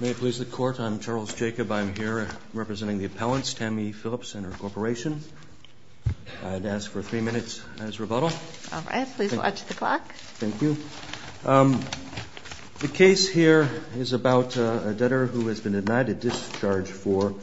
May it please the Court, I'm Charles Jacob. I'm here representing the appellants, Tammy Phillips and her corporation. I'd ask for three minutes as rebuttal. All right, please watch the clock. Thank you. The case here is about a debtor who has been denied a discharge for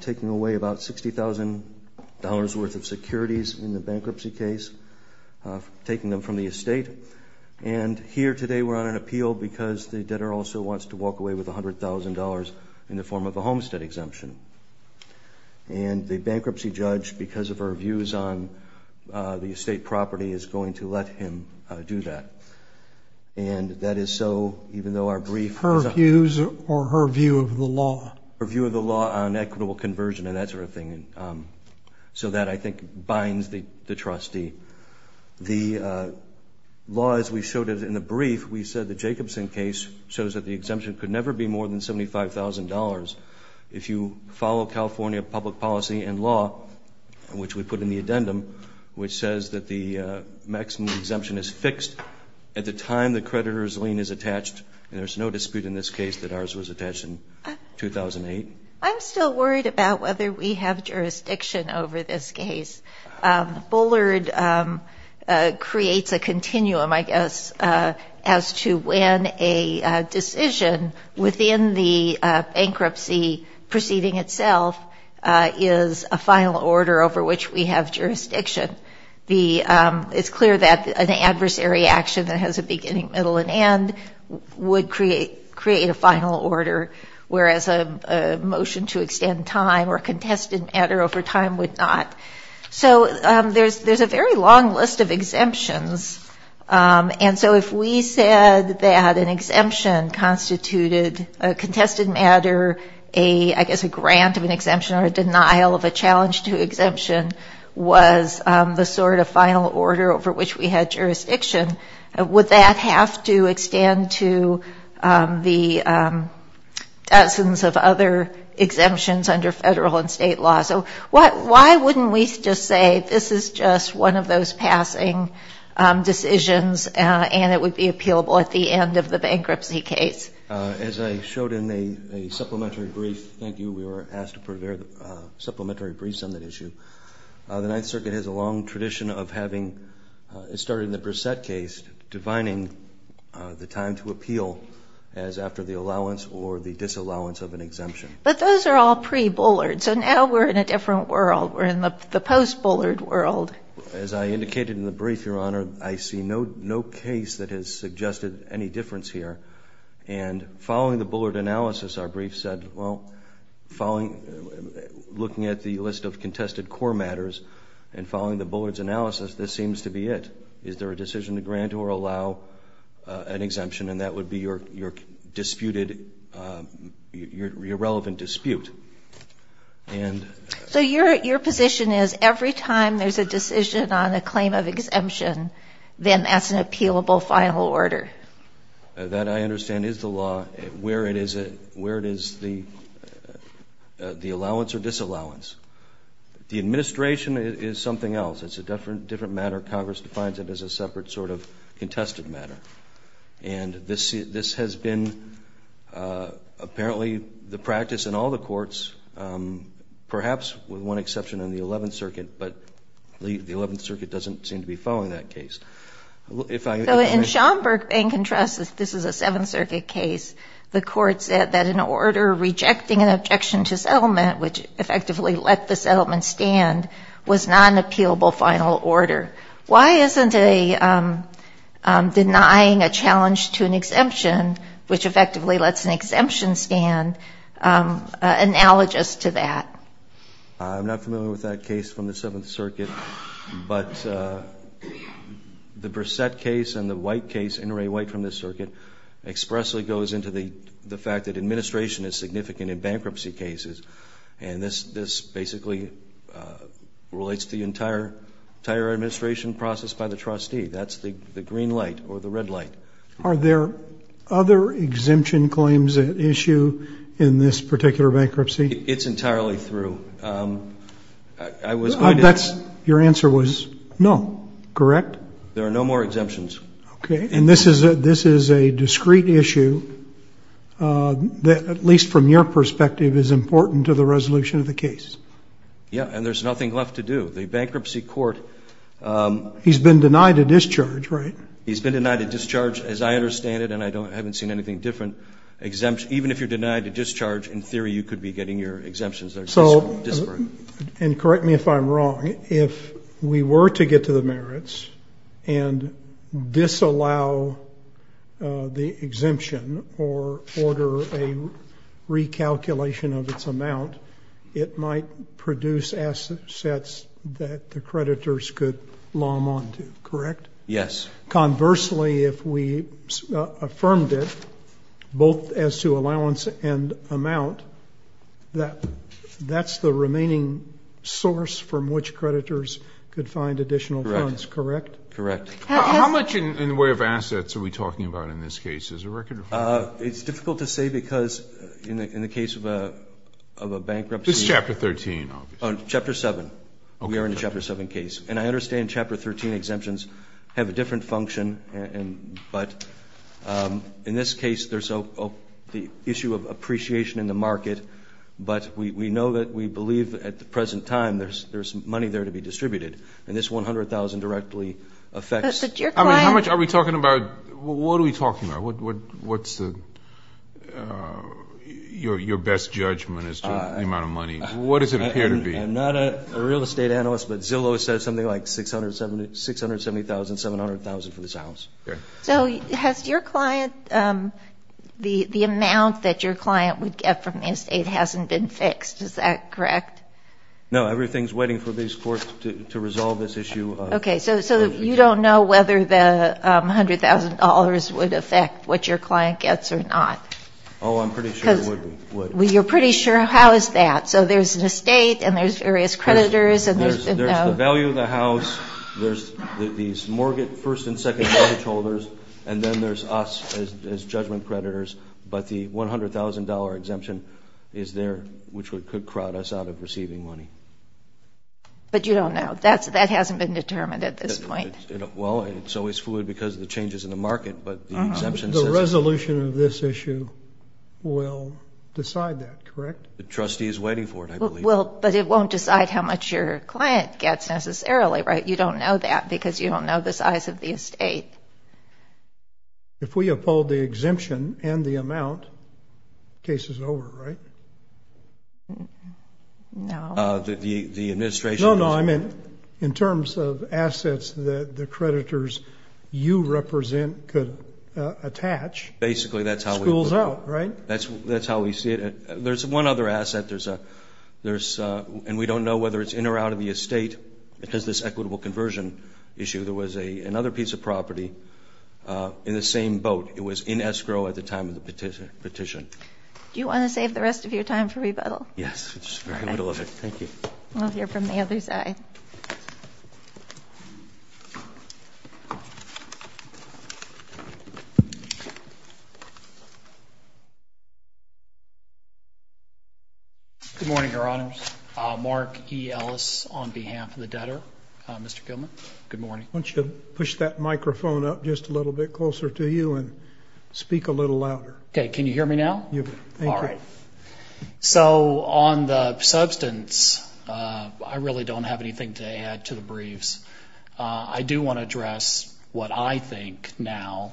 taking away about $60,000 worth of securities in the bankruptcy case, taking them from the estate. And here today we're on an appeal because the debtor also wants to walk away with $100,000 in the form of a homestead exemption. And the bankruptcy judge, because of her views on the estate property, is going to let him do that. And that is so, even though our brief was a... Her views or her view of the law? Her view of the law on equitable conversion and that sort of thing. So that, I think, binds the trustee. The law, as we showed in the brief, we said the Jacobson case shows that the exemption could never be more than $75,000. If you follow California public policy and law, which we put in the addendum, which says that the maximum exemption is fixed at the time the creditor's lien is attached, and there's no dispute in this case that ours was attached in 2008. I'm still worried about whether we have jurisdiction over this case. Bullard creates a continuum, I guess, as to when a decision within the bankruptcy proceeding itself is a final order over which we have jurisdiction. It's clear that an adversary action that has a beginning, middle, and end would create a final order, whereas a motion to extend time or a contested matter over time would not. So there's a very long list of exemptions. And so if we said that an exemption constituted a contested matter, I guess a grant of an exemption or a denial of a challenge to exemption, was the sort of final order over which we had jurisdiction, would that have to extend to the dozens of other exemptions under federal and state law? So why wouldn't we just say this is just one of those passing decisions and it would be appealable at the end of the bankruptcy case? As I showed in a supplementary brief, thank you. We were asked to prepare supplementary briefs on that issue. The Ninth Circuit has a long tradition of having, starting the Brissett case, defining the time to appeal as after the allowance or the disallowance of an exemption. But those are all pre-Bullard, so now we're in a different world. We're in the post-Bullard world. As I indicated in the brief, Your Honor, I see no case that has suggested any difference here. And following the Bullard analysis, our brief said, well, looking at the list of contested core matters and following the Bullard's analysis, this seems to be it. Is there a decision to grant or allow an exemption? And that would be your disputed, your relevant dispute. So your position is every time there's a decision on a claim of exemption, then that's an appealable final order? That, I understand, is the law. Where it is the allowance or disallowance. The administration is something else. It's a different matter. Congress defines it as a separate sort of contested matter. And this has been apparently the practice in all the courts, perhaps with one exception in the Eleventh Circuit. But the Eleventh Circuit doesn't seem to be following that case. In Schomburg, in contrast, this is a Seventh Circuit case. The court said that an order rejecting an objection to settlement, which effectively let the settlement stand, was not an appealable final order. Why isn't denying a challenge to an exemption, which effectively lets an exemption stand, analogous to that? I'm not familiar with that case from the Seventh Circuit. But the Brissett case and the White case, N. Ray White from this circuit, expressly goes into the fact that administration is significant in bankruptcy cases. And this basically relates to the entire administration process by the trustee. That's the green light or the red light. Are there other exemption claims at issue in this particular bankruptcy? It's entirely through. I was going to ask. Your answer was no, correct? There are no more exemptions. Okay. And this is a discrete issue that, at least from your perspective, is important to the resolution of the case. Yeah. And there's nothing left to do. The bankruptcy court. He's been denied a discharge, right? He's been denied a discharge, as I understand it, and I haven't seen anything different. Even if you're denied a discharge, in theory, you could be getting your exemptions. They're disparate. And correct me if I'm wrong. If we were to get to the merits and disallow the exemption or order a recalculation of its amount, it might produce assets that the creditors could lom onto, correct? Yes. Conversely, if we affirmed it, both as to allowance and amount, that's the remaining source from which creditors could find additional funds, correct? Correct. How much in the way of assets are we talking about in this case? Is there a record? It's difficult to say because in the case of a bankruptcy. This is Chapter 13, obviously. Chapter 7. We are in the Chapter 7 case. And I understand Chapter 13 exemptions have a different function. But in this case, there's the issue of appreciation in the market. But we know that we believe at the present time there's money there to be distributed. And this $100,000 directly affects. How much are we talking about? What are we talking about? What's your best judgment as to the amount of money? What does it appear to be? I'm not a real estate analyst, but Zillow says something like $670,000, $700,000 for this house. So has your client, the amount that your client would get from the estate hasn't been fixed. Is that correct? No. Everything's waiting for this court to resolve this issue. Okay. So you don't know whether the $100,000 would affect what your client gets or not? Oh, I'm pretty sure it would. You're pretty sure? How is that? So there's an estate and there's various creditors. There's the value of the house. There's these mortgage first and second mortgage holders. And then there's us as judgment creditors. But the $100,000 exemption is there, which could crowd us out of receiving money. But you don't know. That hasn't been determined at this point. Well, it's always fluid because of the changes in the market. The resolution of this issue will decide that, correct? The trustee is waiting for it, I believe. But it won't decide how much your client gets necessarily, right? You don't know that because you don't know the size of the estate. If we uphold the exemption and the amount, the case is over, right? No. No, no, I meant in terms of assets that the creditors you represent could attach. Basically, that's how we see it. School's out, right? That's how we see it. There's one other asset, and we don't know whether it's in or out of the estate. It has this equitable conversion issue. There was another piece of property in the same boat. It was in escrow at the time of the petition. Do you want to save the rest of your time for rebuttal? Yes. Thank you. We'll hear from the other side. Good morning, Your Honors. Mark E. Ellis on behalf of the debtor. Mr. Gilman, good morning. Why don't you push that microphone up just a little bit closer to you and speak a little louder. Can you hear me now? Yes. Thank you. All right. So on the substance, I really don't have anything to add to the briefs. I do want to address what I think now,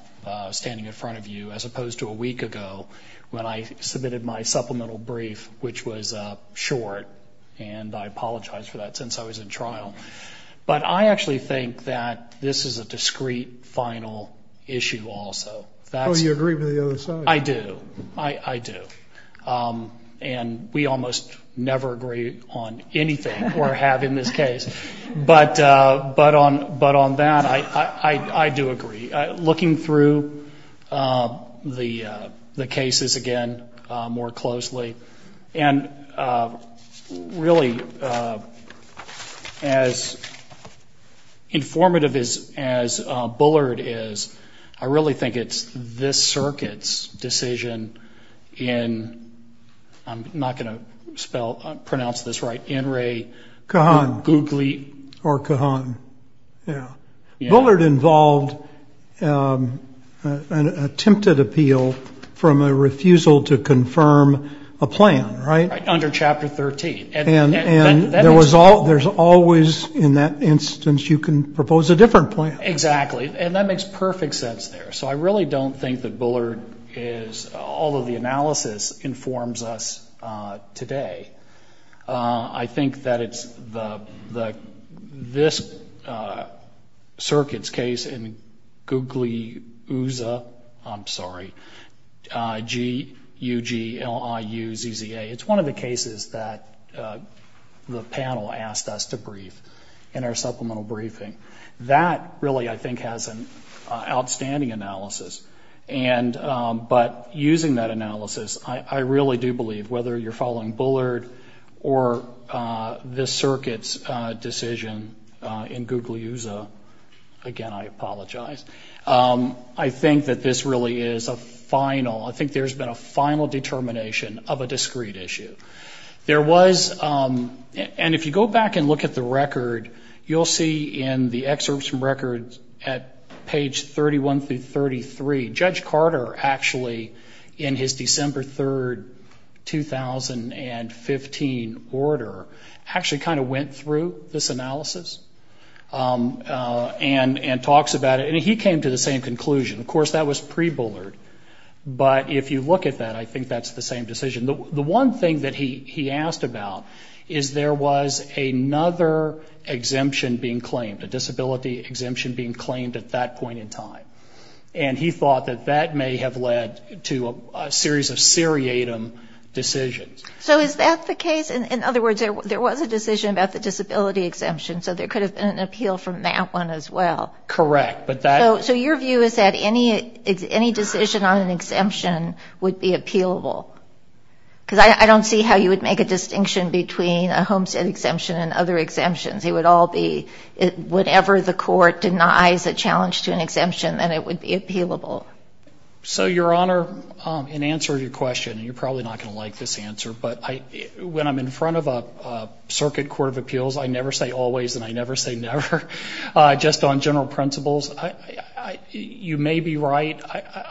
standing in front of you, as opposed to a week ago when I submitted my supplemental brief, which was short, and I apologize for that since I was in trial. But I actually think that this is a discreet final issue also. Oh, you agree with the other side? I do. I do. And we almost never agree on anything or have in this case. But on that, I do agree. Looking through the cases again more closely, and really as informative as Bullard is, I really think it's this circuit's decision in, I'm not going to pronounce this right, Kahan or Kahan. Yeah. Bullard involved an attempted appeal from a refusal to confirm a plan, right? Under Chapter 13. And there's always, in that instance, you can propose a different plan. Exactly. And that makes perfect sense there. So I really don't think that Bullard is, although the analysis informs us today, I think that it's this circuit's case in Gugliuzza, I'm sorry, G-U-G-L-I-U-Z-Z-A. It's one of the cases that the panel asked us to brief in our supplemental briefing. That really, I think, has an outstanding analysis. But using that analysis, I really do believe, whether you're following Bullard or this circuit's decision in Gugliuzza, again, I apologize, I think that this really is a final, I think there's been a final determination of a discrete issue. There was, and if you go back and look at the record, you'll see in the excerpts from records at page 31 through 33, Judge Carter actually, in his December 3, 2015, order, actually kind of went through this analysis and talks about it. And he came to the same conclusion. Of course, that was pre-Bullard. But if you look at that, I think that's the same decision. The one thing that he asked about is there was another exemption being claimed, a disability exemption being claimed at that point in time. And he thought that that may have led to a series of seriatim decisions. So is that the case? In other words, there was a decision about the disability exemption, so there could have been an appeal from that one as well. Correct. So your view is that any decision on an exemption would be appealable? Because I don't see how you would make a distinction between a homestead exemption and other exemptions. It would all be whatever the court denies a challenge to an exemption, then it would be appealable. So, Your Honor, in answer to your question, and you're probably not going to like this answer, but when I'm in front of a circuit court of appeals, I never say always, and I never say never. Just on general principles, you may be right,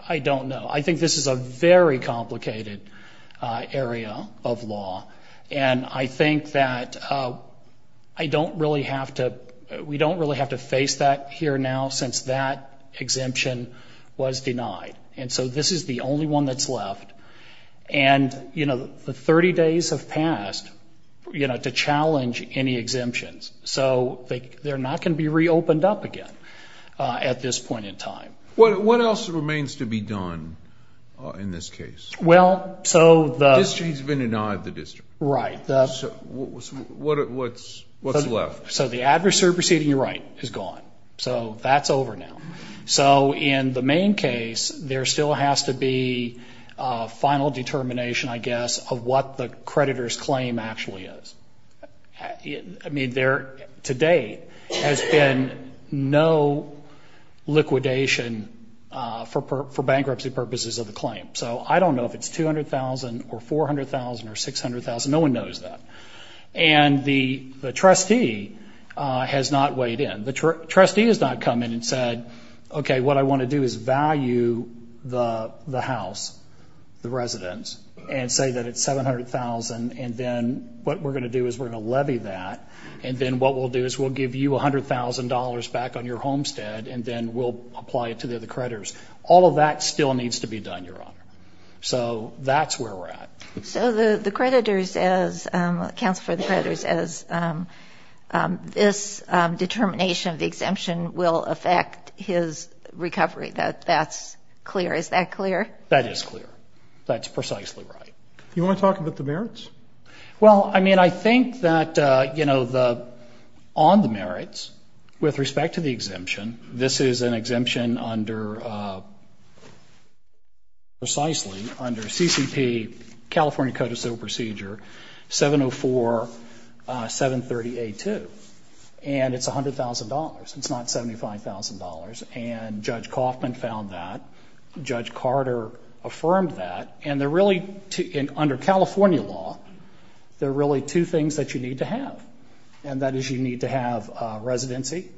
I don't know. I think this is a very complicated area of law, and I think that I don't really have to, we don't really have to face that here now since that exemption was denied. And so this is the only one that's left. And, you know, the 30 days have passed, you know, to challenge any exemptions. So they're not going to be reopened up again at this point in time. What else remains to be done in this case? Well, so the... The district's been denied the district. Right. So what's left? So the adversary proceeding to your right is gone. So that's over now. So in the main case, there still has to be a final determination, I guess, of what the creditor's claim actually is. I mean, there to date has been no liquidation for bankruptcy purposes of the claim. So I don't know if it's $200,000 or $400,000 or $600,000. No one knows that. And the trustee has not weighed in. The trustee has not come in and said, okay, what I want to do is value the house, the residence, and say that it's $700,000, and then what we're going to do is we're going to levy that, and then what we'll do is we'll give you $100,000 back on your homestead, and then we'll apply it to the other creditors. All of that still needs to be done, Your Honor. So that's where we're at. So the creditors, as counsel for the creditors, as this determination of the exemption will affect his recovery, that's clear. Is that clear? That is clear. That's precisely right. Do you want to talk about the merits? Well, I mean, I think that, you know, on the merits, with respect to the exemption, this is an exemption under CCP, California Code of Civil Procedure, 704730A2. And it's $100,000. It's not $75,000. And Judge Kaufman found that. Judge Carter affirmed that. And under California law, there are really two things that you need to have, and that is you need to have residency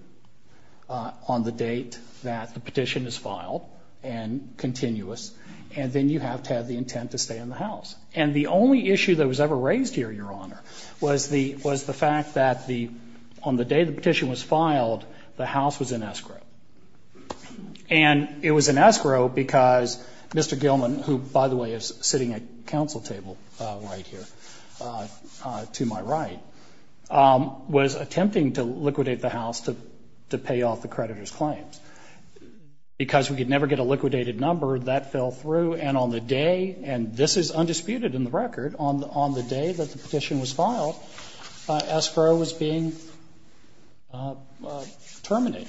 on the date that the petition is filed and continuous, and then you have to have the intent to stay in the house. And the only issue that was ever raised here, Your Honor, was the fact that on the day the petition was filed, the house was in escrow. And it was in escrow because Mr. Gilman, who, by the way, is sitting at counsel table right here to my right, was attempting to liquidate the house to pay off the creditor's claims. Because we could never get a liquidated number, that fell through. And on the day, and this is undisputed in the record, on the day that the petition was filed, escrow was being terminated.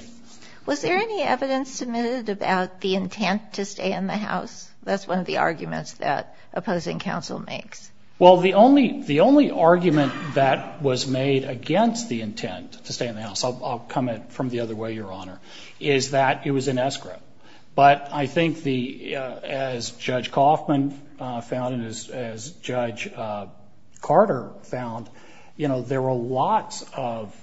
Was there any evidence submitted about the intent to stay in the house? That's one of the arguments that opposing counsel makes. Well, the only argument that was made against the intent to stay in the house, I'll comment from the other way, Your Honor, is that it was in escrow. But I think the, as Judge Kaufman found and as Judge Carter found, you know, there were lots of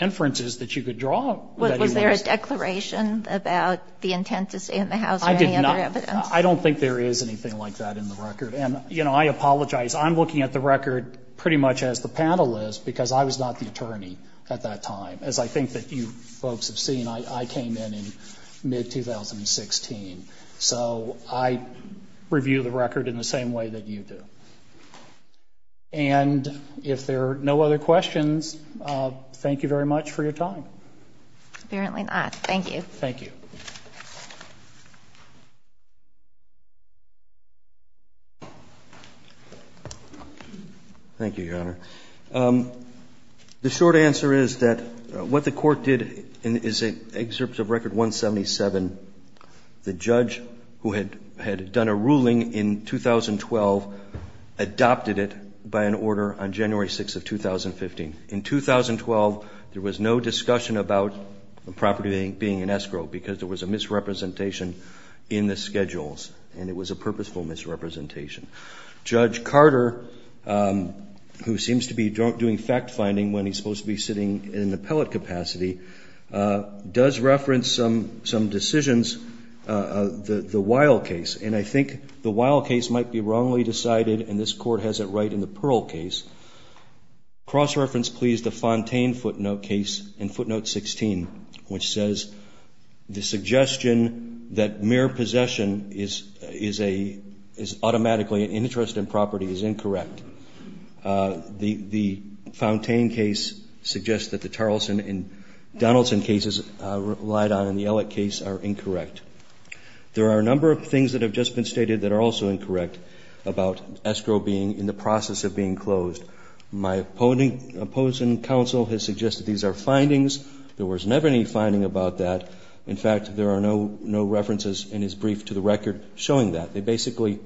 inferences that you could draw. Was there a declaration about the intent to stay in the house or any other evidence? I did not. I don't think there is anything like that in the record. And, you know, I apologize. I'm looking at the record pretty much as the panel is because I was not the attorney at that time, as I think that you folks have seen. I came in in mid-2016. So I review the record in the same way that you do. And if there are no other questions, thank you very much for your time. Apparently not. Thank you. Thank you. Thank you, Your Honor. The short answer is that what the court did is an excerpt of Record 177. The judge who had done a ruling in 2012 adopted it by an order on January 6 of 2015. In 2012, there was no discussion about the property being in escrow because there was a misrepresentation in the schedules, and it was a purposeful misrepresentation. Judge Carter, who seems to be doing fact-finding when he's supposed to be sitting in the appellate capacity, does reference some decisions, the Weil case. And I think the Weil case might be wrongly decided, and this Court has it right in the Pearl case. Cross-reference, please, the Fontaine footnote case in footnote 16, which says the property is incorrect. The Fontaine case suggests that the Tarleson and Donaldson cases relied on, and the Ellick case are incorrect. There are a number of things that have just been stated that are also incorrect about escrow being in the process of being closed. My opposing counsel has suggested these are findings. There was never any finding about that. In fact, there are no references in his brief to the record showing that. They basically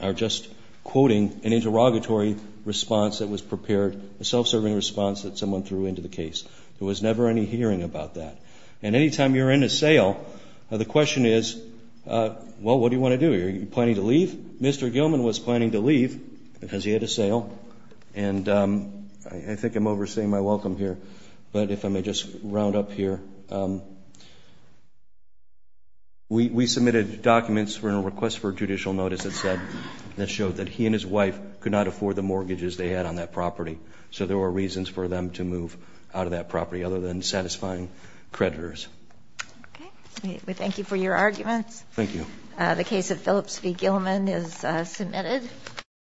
are just quoting an interrogatory response that was prepared, a self-serving response that someone threw into the case. There was never any hearing about that. And any time you're in a sale, the question is, well, what do you want to do? Are you planning to leave? Mr. Gilman was planning to leave because he had a sale, and I think I'm overseeing my welcome here, but if I may just round up here. We submitted documents in a request for judicial notice that showed that he and his wife could not afford the mortgages they had on that property, so there were reasons for them to move out of that property other than satisfying creditors. Okay. We thank you for your arguments. Thank you. The case of Phillips v. Gilman is submitted.